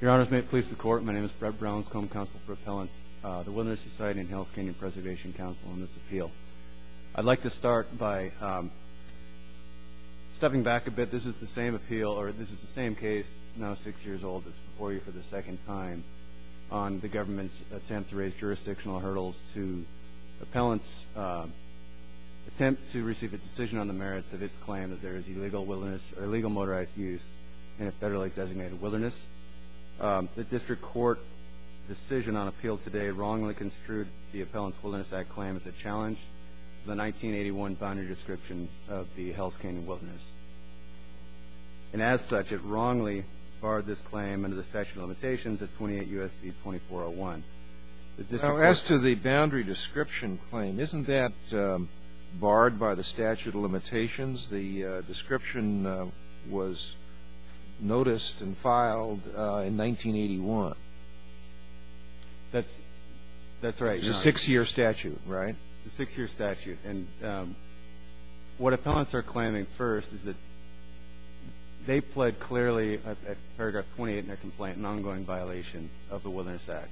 Your honors, may it please the court, my name is Brett Browns, Cone Council for Appellants, the Wilderness Society and Hells Canyon Preservation Council on this appeal. I'd like to start by stepping back a bit. This is the same appeal, or this is the same case, now six years old, that's before you for the second time on the government's attempt to raise jurisdictional hurdles to appellants' attempt to receive a decision on the merits of its claim that there is illegal motorized use in a federally designated wilderness. The district court decision on appeal today wrongly construed the Appellants Wilderness Act claim as a challenge to the 1981 boundary description of the Hells Canyon wilderness. And as such, it wrongly barred this claim under the statute of limitations at 28 U.S.C. 2401. As to the boundary description claim, isn't that barred by the statute of limitations? The description was noticed and filed in 1981. That's right. It's a six-year statute, right? It's a six-year statute. And what appellants are claiming first is that they pled clearly at paragraph 28 in their complaint an ongoing violation of the Wilderness Act,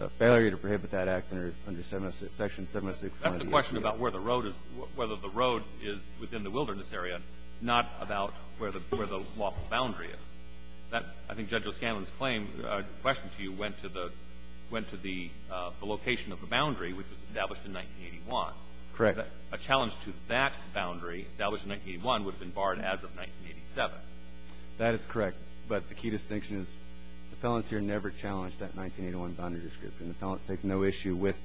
a failure to prohibit that act under section 706. That's the question about where the road is, whether the road is within the wilderness area, not about where the lawful boundary is. I think Judge O'Scanlan's claim, question to you, went to the location of the boundary, which was established in 1981. Correct. A challenge to that boundary established in 1981 would have been barred as of 1987. That is correct. But the key distinction is appellants here never challenged that 1981 boundary description. Appellants take no issue with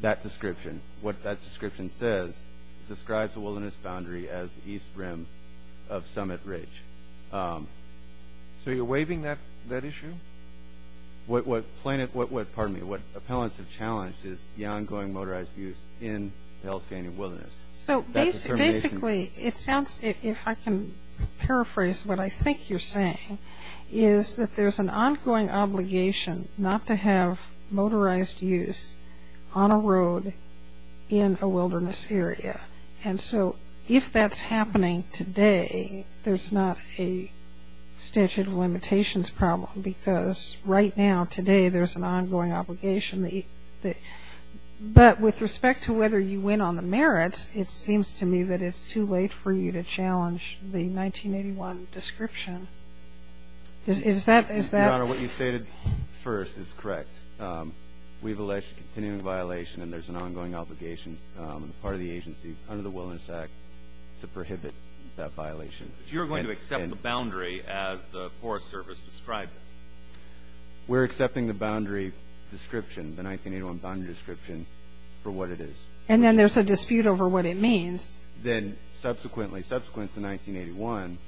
that description. What that description says describes the wilderness boundary as the east rim of Summit Ridge. So you're waiving that issue? What appellants have challenged is the ongoing motorized abuse in the Hell's Canyon wilderness. So basically it sounds, if I can paraphrase what I think you're saying, is that there's an ongoing obligation not to have motorized use on a road in a wilderness area. And so if that's happening today, there's not a statute of limitations problem because right now, today, there's an ongoing obligation. But with respect to whether you win on the merits, it seems to me that it's too late for you to challenge the 1981 description. Is that the question? Your Honor, what you stated first is correct. We've alleged continuing violation, and there's an ongoing obligation on the part of the agency under the Wilderness Act to prohibit that violation. You're going to accept the boundary as the Forest Service described it? We're accepting the boundary description, the 1981 boundary description, for what it is. And then there's a dispute over what it means. Then subsequently, subsequent to 1981,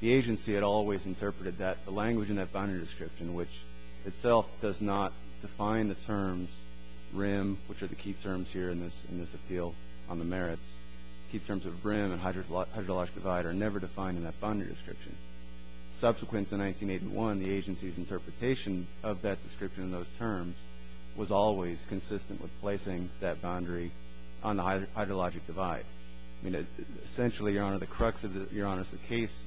the agency had always interpreted that the language in that boundary description, which itself does not define the terms rim, which are the key terms here in this appeal on the merits, key terms of rim and hydrologic divide are never defined in that boundary description. Subsequent to 1981, the agency's interpretation of that description and those terms was always consistent with placing that boundary on the hydrologic divide. Essentially, Your Honor, the crux of the case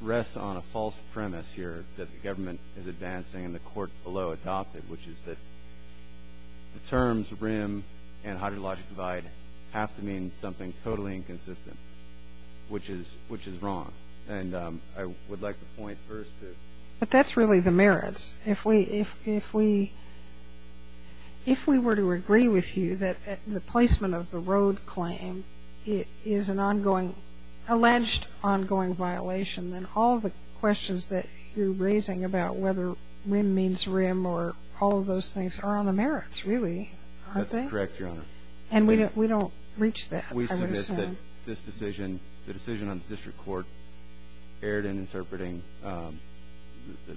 rests on a false premise here that the government is advancing and the court below adopted, which is that the terms rim and hydrologic divide have to mean something totally inconsistent, which is wrong. And I would like to point first to – But that's really the merits. If we were to agree with you that the placement of the road claim is an ongoing – alleged ongoing violation, then all the questions that you're raising about whether rim means rim or all of those things are on the merits, really, aren't they? That's correct, Your Honor. And we don't reach that, I would assume. I would assume that this decision, the decision on the district court, erred in interpreting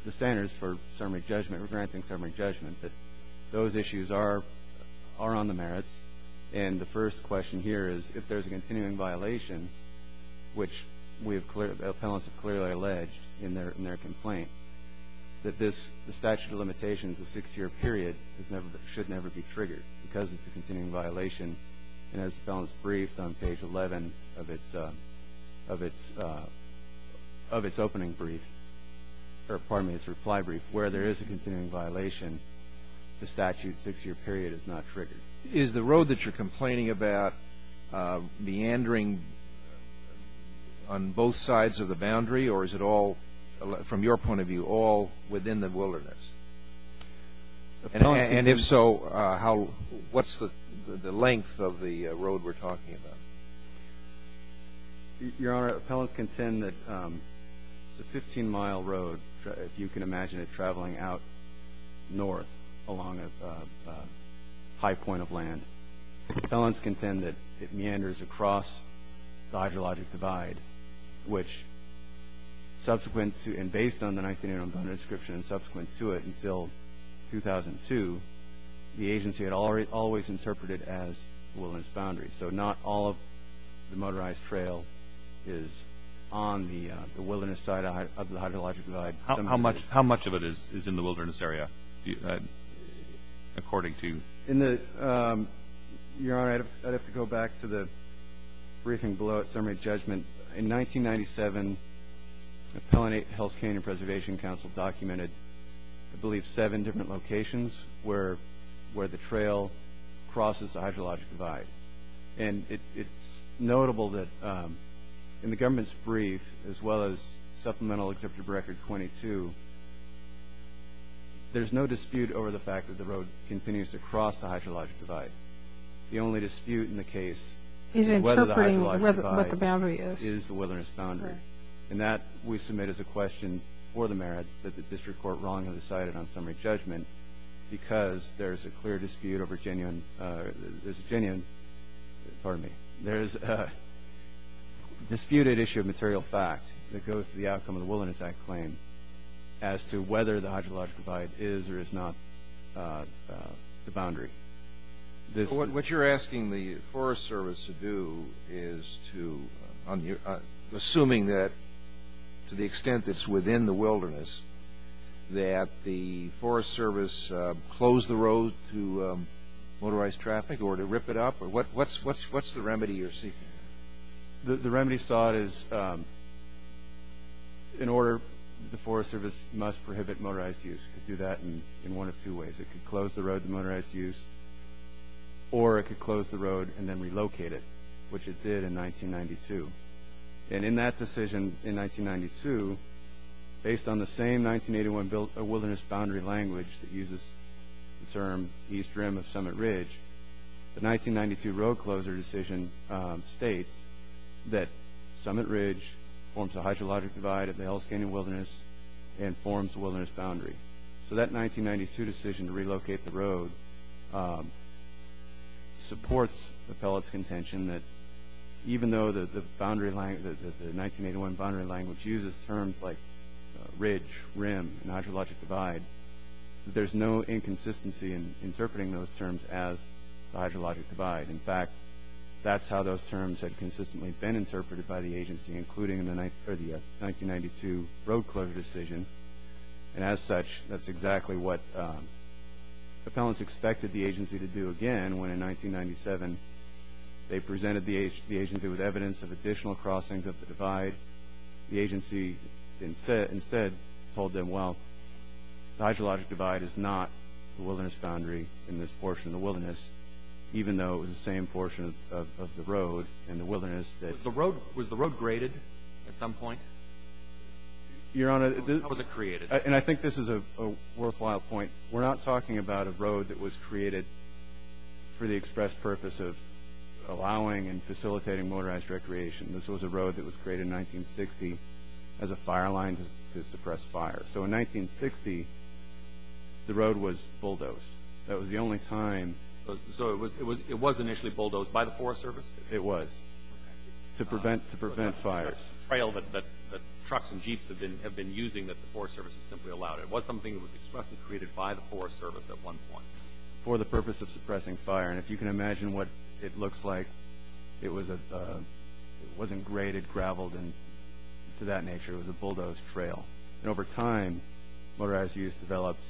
the standards for summary judgment or granting summary judgment, that those issues are on the merits. And the first question here is if there's a continuing violation, which we have clearly – appellants have clearly alleged in their complaint, that this statute of limitations, the six-year period, should never be triggered because it's a continuing violation. And as the appellant's briefed on page 11 of its opening brief – or pardon me, its reply brief, where there is a continuing violation, the statute six-year period is not triggered. Is the road that you're complaining about meandering on both sides of the boundary or is it all, from your point of view, all within the wilderness? And if so, how – what's the length of the road we're talking about? Your Honor, appellants contend that it's a 15-mile road, if you can imagine it traveling out north along a high point of land. Appellants contend that it meanders across the hydrologic divide, which subsequent to – and based on the 19-year description and subsequent to it until 2002, the agency had always interpreted as the wilderness boundary. So not all of the motorized trail is on the wilderness side of the hydrologic divide. How much of it is in the wilderness area, according to you? Your Honor, I'd have to go back to the briefing below its summary judgment. In 1997, Appellant Health, Canadian Preservation Council documented, I believe, seven different locations where the trail crosses the hydrologic divide. And it's notable that in the government's brief, as well as Supplemental Exemptive Record 22, there's no dispute over the fact that the road continues to cross the hydrologic divide. The only dispute in the case is whether the hydrologic divide is the wilderness boundary. And that we submit as a question for the merits that the district court wrongly decided on summary judgment because there's a clear dispute over genuine – there's a genuine – pardon me. There's a disputed issue of material fact that goes to the outcome of the Wilderness Act claim as to whether the hydrologic divide is or is not the boundary. What you're asking the Forest Service to do is to – assuming that, to the extent it's within the wilderness, that the Forest Service close the road to motorized traffic or to rip it up? What's the remedy you're seeking? The remedy sought is, in order, the Forest Service must prohibit motorized use. It could do that in one of two ways. It could close the road to motorized use, or it could close the road and then relocate it, which it did in 1992. And in that decision in 1992, based on the same 1981 wilderness boundary language that uses the term East Rim of Summit Ridge, the 1992 road closer decision states that Summit Ridge forms a hydrologic divide of the Hellis Canyon Wilderness and forms the wilderness boundary. So that 1992 decision to relocate the road supports the pellet's contention that even though the 1981 boundary language uses terms like ridge, rim, and hydrologic divide, there's no inconsistency in interpreting those terms as the hydrologic divide. In fact, that's how those terms had consistently been interpreted by the agency, including in the 1992 road closure decision. And as such, that's exactly what the pellets expected the agency to do again when in 1997 they presented the agency with evidence of additional crossings of the divide. The agency instead told them, well, the hydrologic divide is not the wilderness boundary in this portion of the wilderness, even though it was the same portion of the road and the wilderness that... Was the road graded at some point? Your Honor... Or was it created? And I think this is a worthwhile point. We're not talking about a road that was created for the express purpose of allowing and facilitating motorized recreation. This was a road that was created in 1960 as a fire line to suppress fire. So in 1960, the road was bulldozed. That was the only time... So it was initially bulldozed by the Forest Service? It was. To prevent fires. The trail that trucks and jeeps have been using that the Forest Service has simply allowed. It was something that was expressly created by the Forest Service at one point. For the purpose of suppressing fire. And if you can imagine what it looks like, it wasn't graded gravel to that nature. It was a bulldozed trail. And over time, motorized use developed,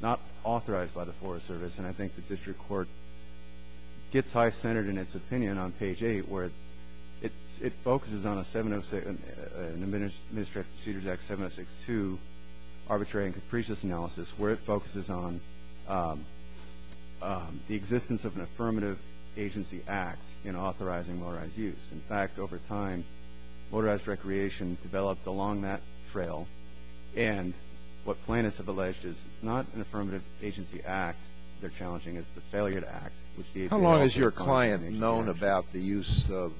not authorized by the Forest Service, and I think the District Court gets high-centered in its opinion on page 8, where it focuses on a 706... an Administrative Procedures Act 706-2 arbitrary and capricious analysis where it focuses on the existence of an Affirmative Agency Act in authorizing motorized use. In fact, over time, motorized recreation developed along that trail, and what plaintiffs have alleged is it's not an Affirmative Agency Act they're challenging, it's the Failure to Act. How long has your client known about the use of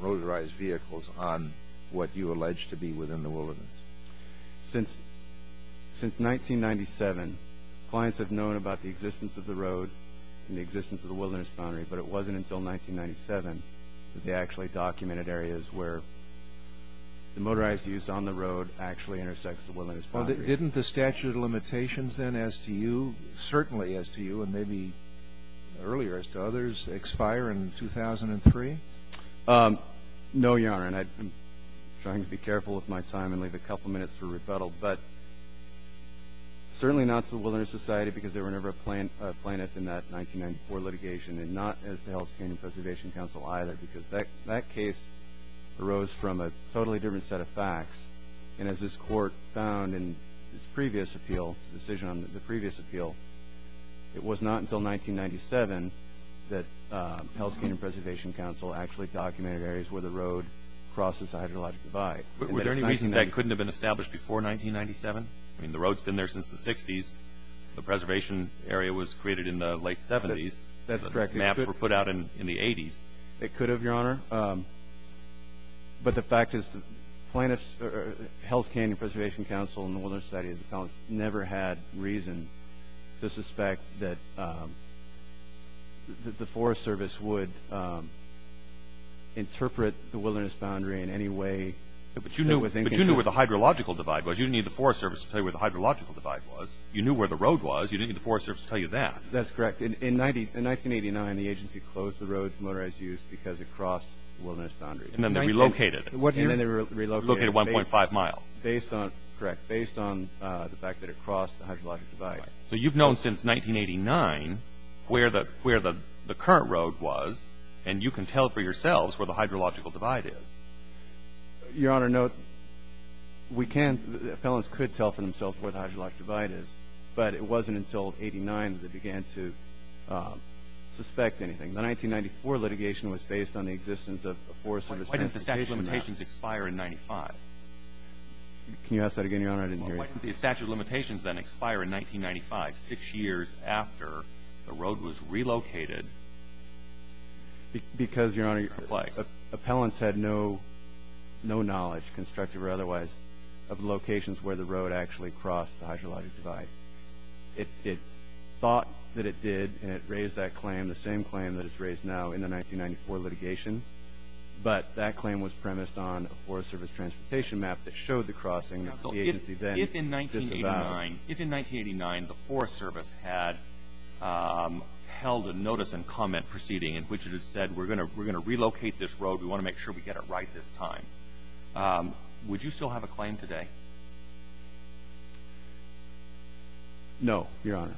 motorized vehicles on what you allege to be within the wilderness? Since 1997, clients have known about the existence of the road and the existence of the wilderness boundary, but it wasn't until 1997 that they actually documented areas where the motorized use on the road actually intersects the wilderness boundary. Well, didn't the statute of limitations then, as to you, certainly as to you and maybe earlier as to others, expire in 2003? No, Your Honor, and I'm trying to be careful with my time and leave a couple minutes for rebuttal, but certainly not to the Wilderness Society because they were never a plaintiff in that 1994 litigation and not as the Hell's Canyon Preservation Council either because that case arose from a totally different set of facts, and as this Court found in its previous appeal, decision on the previous appeal, it was not until 1997 that Hell's Canyon Preservation Council actually documented areas where the road crosses the hydrologic divide. Was there any reason that couldn't have been established before 1997? I mean, the road's been there since the 60s. The preservation area was created in the late 70s. That's correct. The maps were put out in the 80s. It could have, Your Honor, but the fact is the Hell's Canyon Preservation Council and the Wilderness Society never had reason to suspect that the Forest Service would interpret the wilderness boundary in any way that was inconsistent. But you knew where the hydrological divide was. You didn't need the Forest Service to tell you where the hydrological divide was. You knew where the road was. You didn't need the Forest Service to tell you that. That's correct. In 1989, the agency closed the road for motorized use because it crossed the wilderness boundary. And then they relocated it. And then they relocated it. Relocated 1.5 miles. Correct. Based on the fact that it crossed the hydrological divide. So you've known since 1989 where the current road was, and you can tell for yourselves where the hydrological divide is. Your Honor, no. We can't. Felons could tell for themselves where the hydrological divide is. But it wasn't until 1989 that they began to suspect anything. The 1994 litigation was based on the existence of a Forest Service transportation map. Why didn't the statute of limitations expire in 1995? Can you ask that again, Your Honor? I didn't hear you. Why didn't the statute of limitations then expire in 1995, six years after the road was relocated? Because, Your Honor, appellants had no knowledge, constructive or otherwise, of locations where the road actually crossed the hydrological divide. It thought that it did, and it raised that claim, the same claim that it's raised now in the 1994 litigation. But that claim was premised on a Forest Service transportation map that showed the crossing that the agency then disavowed. Counsel, if in 1989 the Forest Service had held a notice and comment proceeding in which it had said, we're going to relocate this road, we want to make sure we get it right this time, would you still have a claim today? No, Your Honor.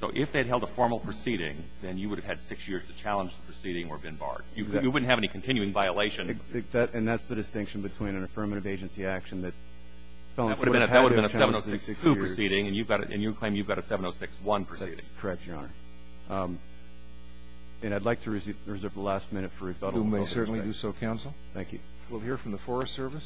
So if they'd held a formal proceeding, then you would have had six years to challenge the proceeding or have been barred. Exactly. You wouldn't have any continuing violation. And that's the distinction between an affirmative agency action that fell into a pact of challenging the proceeding. That would have been a 706-2 proceeding, and you claim you've got a 706-1 proceeding. That's correct, Your Honor. And I'd like to reserve the last minute for rebuttal. You may certainly do so, Counsel. Thank you. We'll hear from the Forest Service.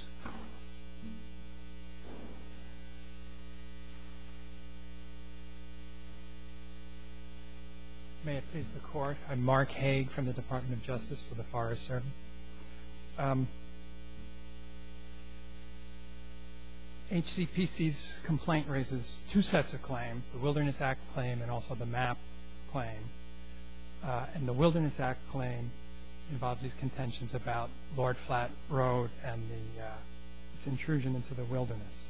May it please the Court. I'm Mark Hague from the Department of Justice for the Forest Service. HCPC's complaint raises two sets of claims, the Wilderness Act claim and also the MAP claim. And the Wilderness Act claim involves these contentions about Lord Flat Road and its intrusion into the wilderness.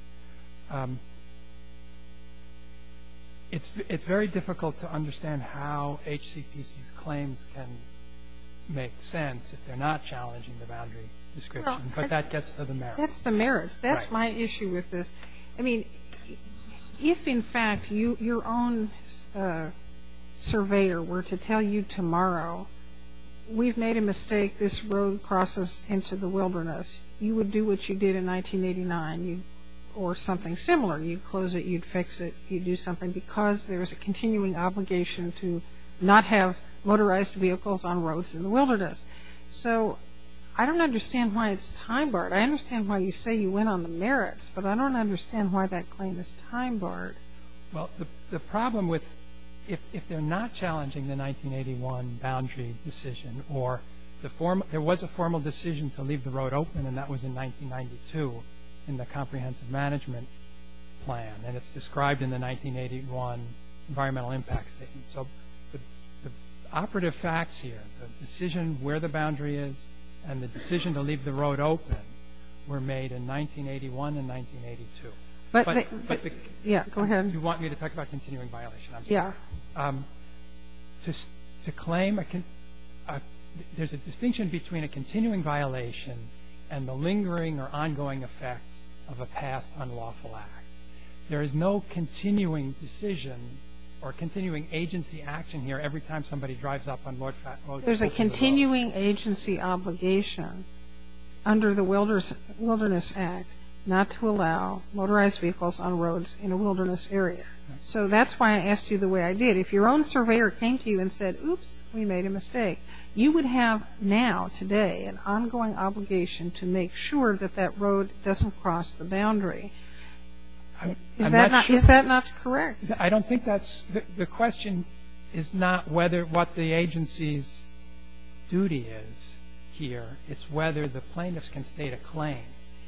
It's very difficult to understand how HCPC's claims can make sense if they're not challenging the boundary description, but that gets to the merits. That's the merits. That's my issue with this. I mean, if, in fact, your own surveyor were to tell you tomorrow, we've made a mistake, this road crosses into the wilderness, you would do what you did in 1989. Or something similar. You'd close it. You'd fix it. You'd do something because there's a continuing obligation to not have motorized vehicles on roads in the wilderness. So I don't understand why it's time-barred. I understand why you say you went on the merits, but I don't understand why that claim is time-barred. Well, the problem with if they're not challenging the 1981 boundary decision or there was a formal decision to leave the road open, and that was in 1992, in the comprehensive management plan, and it's described in the 1981 environmental impact statement. So the operative facts here, the decision where the boundary is and the decision to leave the road open were made in 1981 and 1982. But the – Yeah, go ahead. You want me to talk about continuing violation. I'm sorry. Yeah. To claim – there's a distinction between a continuing violation and the lingering or ongoing effects of a past unlawful act. There is no continuing decision or continuing agency action here every time somebody drives up on a road. There's a continuing agency obligation under the Wilderness Act not to allow motorized vehicles on roads in a wilderness area. So that's why I asked you the way I did. If your own surveyor came to you and said, oops, we made a mistake, you would have now, today, an ongoing obligation to make sure that that road doesn't cross the boundary. Is that not correct? I don't think that's – the question is not what the agency's duty is here. It's whether the plaintiffs can state a claim.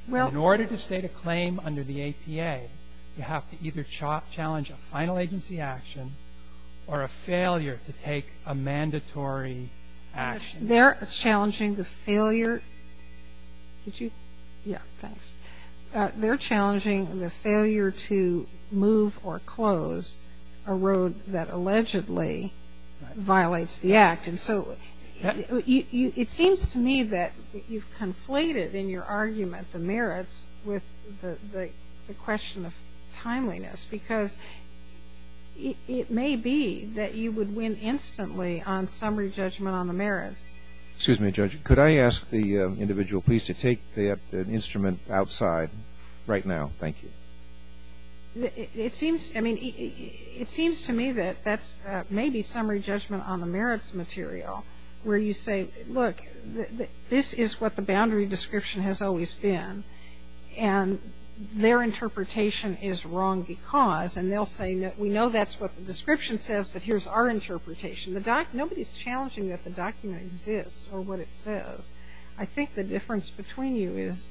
In order to state a claim under the APA, you have to either challenge a final agency action or a failure to take a mandatory action. They're challenging the failure – did you – yeah, thanks. They're challenging the failure to move or close a road that allegedly violates the act. And so it seems to me that you've conflated in your argument the merits with the question of timeliness because it may be that you would win instantly on summary judgment on the merits. Excuse me, Judge. Could I ask the individual please to take the instrument outside right now? Thank you. It seems to me that that's maybe summary judgment on the merits material where you say, look, this is what the boundary description has always been, and their interpretation is wrong because, and they'll say, we know that's what the description says, but here's our interpretation. Nobody's challenging that the document exists or what it says. I think the difference between you is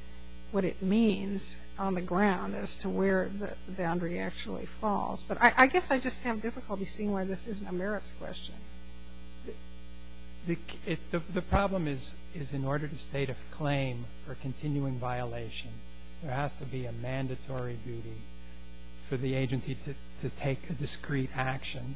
what it means on the ground as to where the boundary actually falls. But I guess I just have difficulty seeing why this isn't a merits question. The problem is in order to state a claim for continuing violation, there has to be a mandatory duty for the agency to take a discrete action,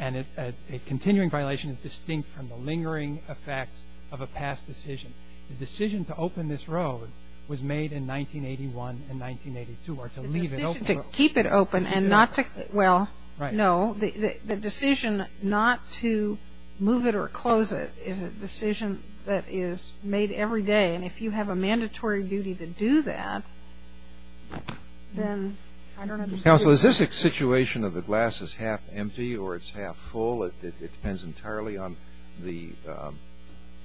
and a continuing violation is distinct from the lingering effects of a past decision. The decision to open this road was made in 1981 and 1982, or to leave it open. Well, no. The decision not to move it or close it is a decision that is made every day, and if you have a mandatory duty to do that, then I don't understand. Counsel, is this a situation of the glass is half empty or it's half full? It depends entirely on the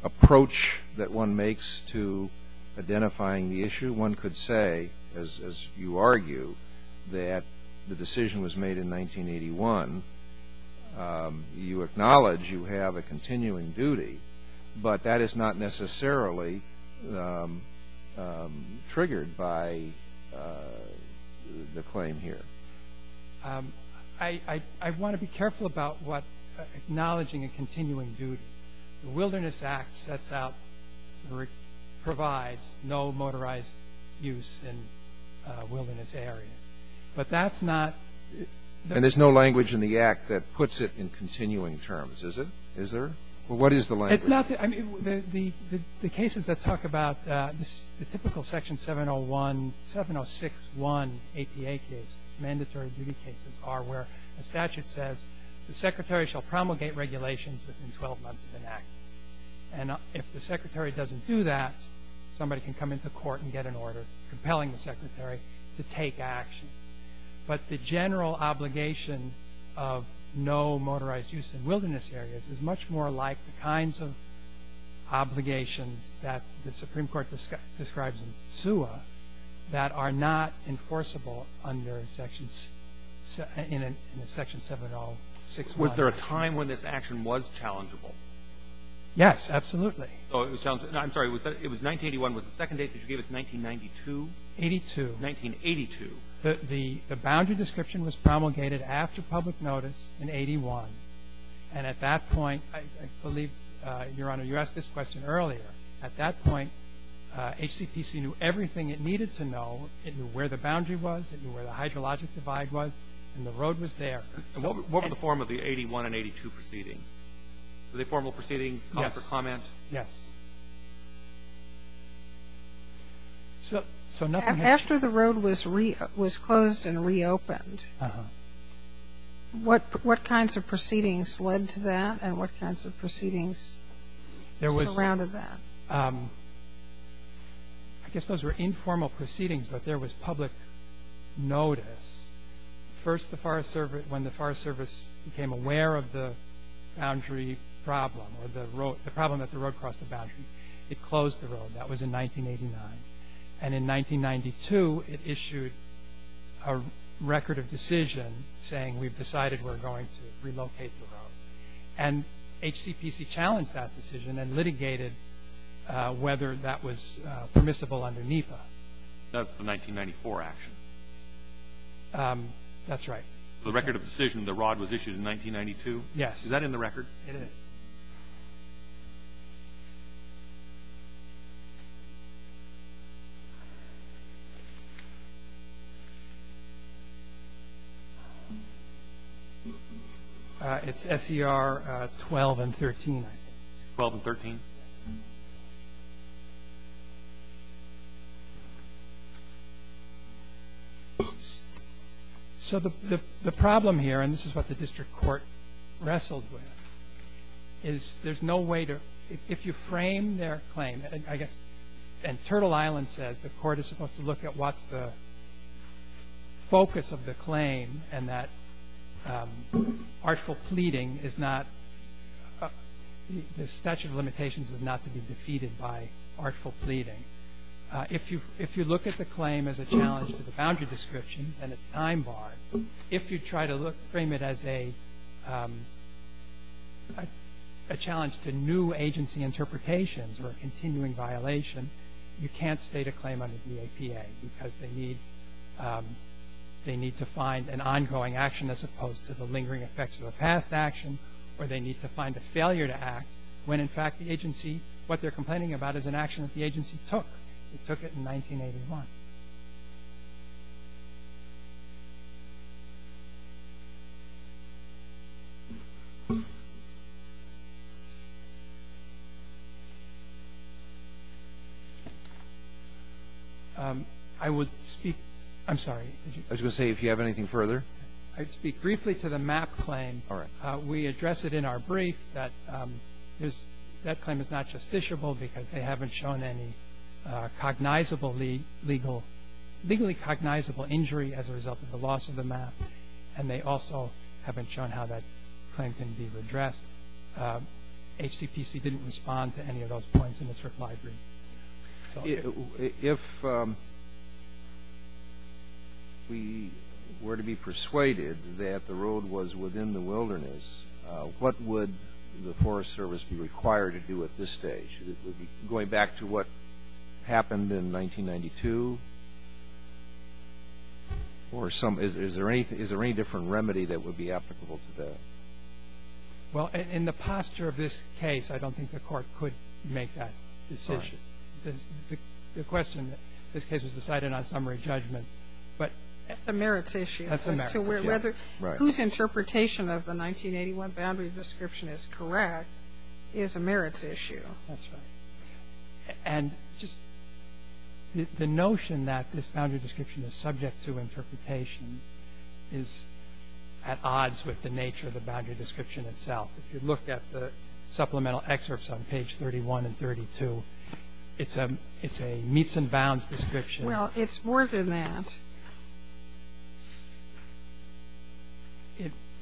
approach that one makes to identifying the issue. One could say, as you argue, that the decision was made in 1981. You acknowledge you have a continuing duty, but that is not necessarily triggered by the claim here. I want to be careful about what acknowledging a continuing duty. The Wilderness Act sets out or provides no motorized use in wilderness areas, but that's not the ---- And there's no language in the Act that puts it in continuing terms, is there? Well, what is the language? It's not the ---- I mean, the cases that talk about the typical Section 701, 706-1 APA case, mandatory duty cases, are where the statute says the secretary shall promulgate regulations within 12 months of an act. And if the secretary doesn't do that, somebody can come into court and get an order, compelling the secretary to take action. But the general obligation of no motorized use in wilderness areas is much more like the kinds of obligations that the Supreme Court describes in SUA that are not enforceable under Section 706-1. Was there a time when this action was challengeable? Yes, absolutely. I'm sorry. It was 1981. Was the second date that you gave us 1992? 1982. 1982. The boundary description was promulgated after public notice in 81. And at that point, I believe, Your Honor, you asked this question earlier. At that point, HCPC knew everything it needed to know. It knew where the boundary was. It knew where the hydrologic divide was. And the road was there. What were the form of the 81 and 82 proceedings? Were they formal proceedings? Yes. Comfort comment? Yes. So nothing ---- After the road was closed and reopened, what kinds of proceedings led to that and what kinds of proceedings surrounded that? I guess those were informal proceedings, but there was public notice. First, when the Forest Service became aware of the boundary problem or the problem that the road crossed the boundary, it closed the road. That was in 1989. And in 1992, it issued a record of decision saying, And HCPC challenged that decision and litigated whether that was permissible under NEPA. That was the 1994 action. That's right. The record of decision, the rod was issued in 1992? Yes. Is that in the record? It is. It's S.E.R. 12 and 13, I think. 12 and 13? Yes. So the problem here, and this is what the district court wrestled with, is there's no way to ---- if you frame their claim, I guess, and Turtle Island says the court is supposed to look at what's the focus of the claim and that artful pleading is not ---- the statute of limitations is not to be defeated by artful pleading. If you look at the claim as a challenge to the boundary description, then it's time barred. If you try to frame it as a challenge to new agency interpretations or a continuing violation, you can't state a claim under DAPA because they need to find an ongoing action as opposed to the lingering effects of a past action or they need to find a failure to act when, in fact, the agency, what they're complaining about is an action that the agency took. They took it in 1981. I would speak ---- I'm sorry. I was going to say if you have anything further. I'd speak briefly to the MAP claim. All right. We address it in our brief that that claim is not justiciable because they haven't shown any cognizable legal ---- legally cognizable injury as a result of the loss of the MAP and they also haven't shown how that claim can be redressed. HCPC didn't respond to any of those points in its reply brief. If we were to be persuaded that the road was within the wilderness, what would the Forest Service be required to do at this stage? Going back to what happened in 1992 or some ---- is there any different remedy that would be applicable to that? Well, in the posture of this case, I don't think the Court could make that decision. The question, this case was decided on summary judgment, but ---- That's a merits issue. That's a merits issue. Right. Whose interpretation of the 1981 boundary description is correct is a merits issue. That's right. And just the notion that this boundary description is subject to interpretation is at odds with the nature of the boundary description itself. If you look at the supplemental excerpts on page 31 and 32, it's a meets and bounds description. Well, it's more than that.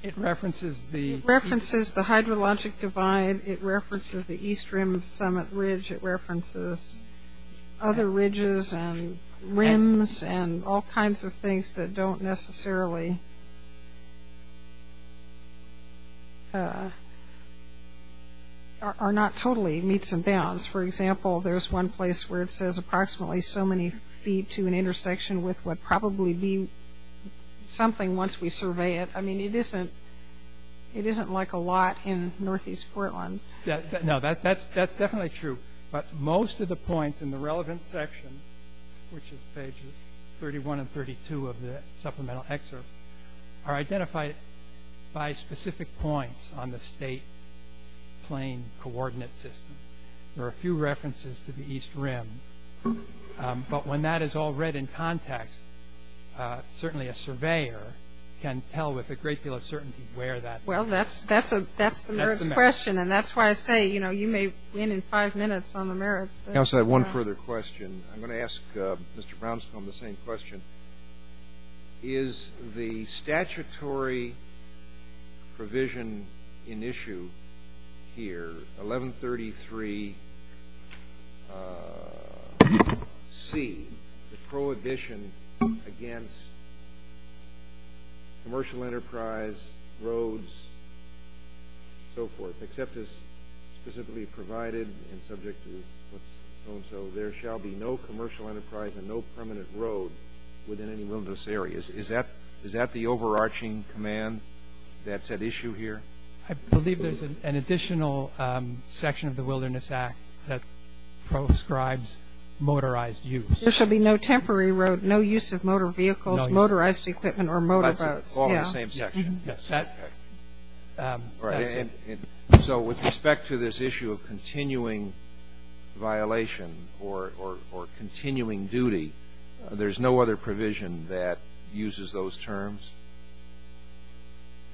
It references the ---- It references the hydrologic divide. It references the east rim of Summit Ridge. It references other ridges and rims and all kinds of things that don't necessarily ---- are not totally meets and bounds. For example, there's one place where it says approximately so many feet to an intersection with what would probably be something once we survey it. I mean, it isn't like a lot in northeast Portland. No, that's definitely true. But most of the points in the relevant section, which is pages 31 and 32 of the supplemental excerpts, are identified by specific points on the state plane coordinate system. There are a few references to the east rim. But when that is all read in context, certainly a surveyor can tell with a great deal of certainty where that ---- Well, that's the merits question. And that's why I say, you know, you may win in five minutes on the merits. Counsel, I have one further question. I'm going to ask Mr. Brownstone the same question. Is the statutory provision in issue here, 1133C, the prohibition against commercial enterprise, roads, so forth, except as specifically provided and subject to what's so-and-so, there shall be no commercial enterprise and no permanent road within any wilderness areas, is that the overarching command that's at issue here? I believe there's an additional section of the Wilderness Act that proscribes motorized use. There shall be no temporary road, no use of motor vehicles, motorized equipment, or motor boats. Yes. All right. So with respect to this issue of continuing violation or continuing duty, there's no other provision that uses those terms?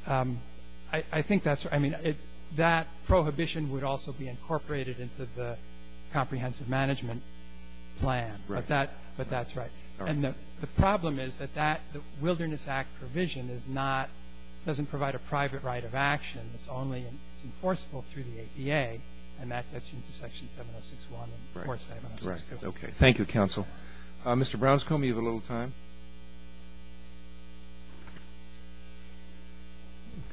I think that's right. I mean, that prohibition would also be incorporated into the comprehensive management plan. Right. But that's right. And the problem is that that, the Wilderness Act provision is not, doesn't provide a private right of action. It's only, it's enforceable through the APA, and that gets you into Section 706-1 and of course 706-2. Right. Okay. Thank you, counsel. Mr. Brownstone, you have a little time?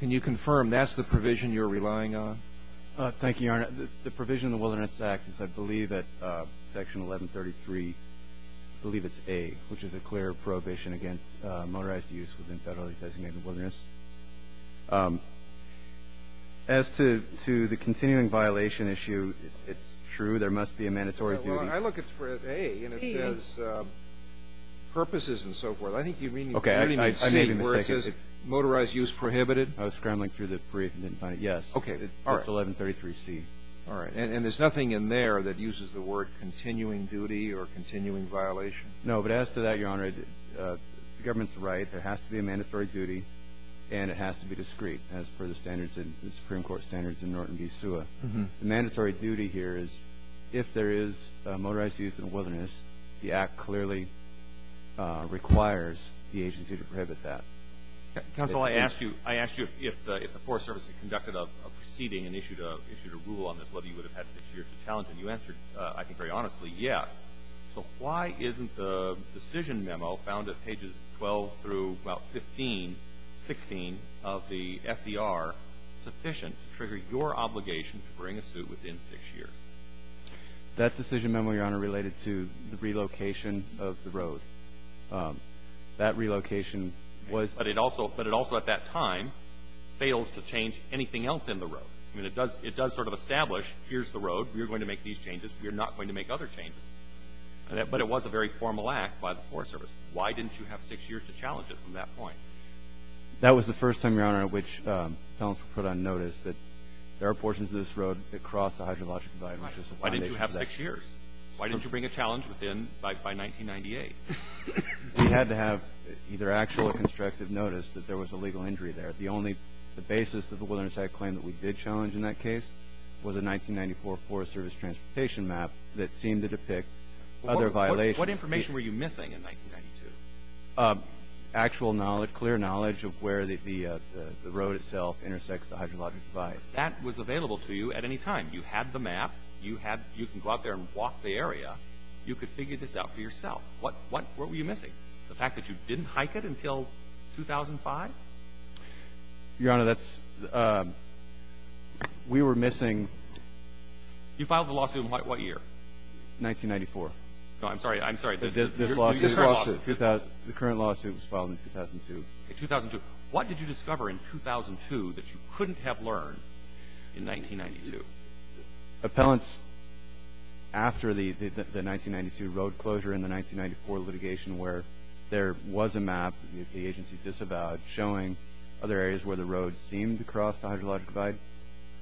Can you confirm that's the provision you're relying on? Thank you, Your Honor. The provision in the Wilderness Act is, I believe, at Section 1133, I believe it's A, which is a clear prohibition against motorized use within federally designated wilderness. As to the continuing violation issue, it's true, there must be a mandatory duty. Well, I look at A, and it says purposes and so forth. I think you mean C, where it says motorized use prohibited. I was scrambling through the brief and didn't find it. Yes. Okay. It's 1133C. All right. And there's nothing in there that uses the word continuing duty or continuing violation? No, but as to that, Your Honor, the government's right. There has to be a mandatory duty, and it has to be discreet as per the standards, the Supreme Court standards in Norton v. SUA. The mandatory duty here is if there is motorized use in the wilderness, the Act clearly requires the agency to prohibit that. Counsel, I asked you if the Forest Service had conducted a proceeding and issued a rule on this, whether you would have had six years of talent, and you answered, I think, very honestly, yes. So why isn't the decision memo found at pages 12 through, well, 15, 16 of the S.E.R., sufficient to trigger your obligation to bring a suit within six years? That decision memo, Your Honor, related to the relocation of the road. That relocation was— But it also, at that time, fails to change anything else in the road. I mean, it does sort of establish, here's the road. We are going to make these changes. We are not going to make other changes. But it was a very formal act by the Forest Service. Why didn't you have six years to challenge it from that point? That was the first time, Your Honor, which counsel put on notice, that there are portions of this road that cross the hydrologic divide. Why didn't you have six years? Why didn't you bring a challenge within—by 1998? We had to have either actual or constructive notice that there was a legal injury there. The only—the basis of the wilderness act claim that we did challenge in that case was a 1994 Forest Service transportation map that seemed to depict other violations. What information were you missing in 1992? Actual knowledge, clear knowledge of where the road itself intersects the hydrologic divide. That was available to you at any time. You had the maps. You had—you can go out there and walk the area. You could figure this out for yourself. What were you missing? The fact that you didn't hike it until 2005? Your Honor, that's—we were missing— You filed the lawsuit in what year? 1994. No, I'm sorry. I'm sorry. This lawsuit— You just filed a lawsuit. The current lawsuit was filed in 2002. What did you discover in 2002 that you couldn't have learned in 1992? Appellants, after the 1992 road closure and the 1994 litigation where there was a map that the agency disavowed showing other areas where the road seemed to cross the hydrologic divide,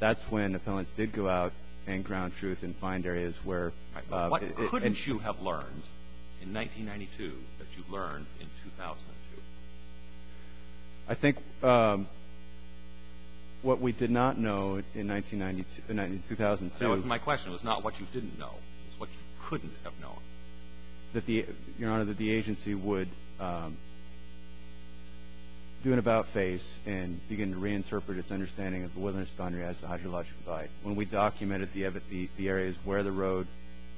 that's when appellants did go out and ground truth and find areas where— What couldn't you have learned in 1992 that you learned in 2002? I think what we did not know in 2002— That wasn't my question. It was not what you didn't know. It was what you couldn't have known. Your Honor, that the agency would do an about-face and begin to reinterpret its understanding of the Woodlands Boundary as the hydrologic divide when we documented the areas where the road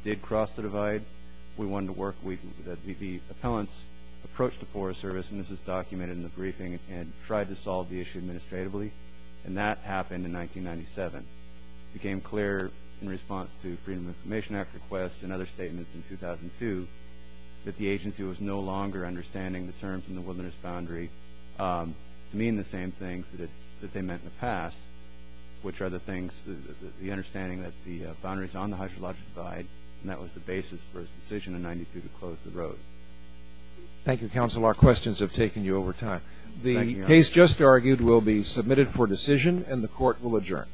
did cross the divide. We wanted to work with— The appellants approached the Forest Service, and this is documented in the briefing, and tried to solve the issue administratively, and that happened in 1997. It became clear in response to Freedom of Information Act requests and other statements in 2002 that the agency was no longer understanding the terms in the Woodlands Boundary to mean the same things that they meant in the past, which are the things—the understanding that the boundary is on the hydrologic divide, and that was the basis for its decision in 1992 to close the road. Thank you, counsel. Our questions have taken you over time. Thank you, Your Honor. The case just argued will be submitted for decision, and the Court will adjourn.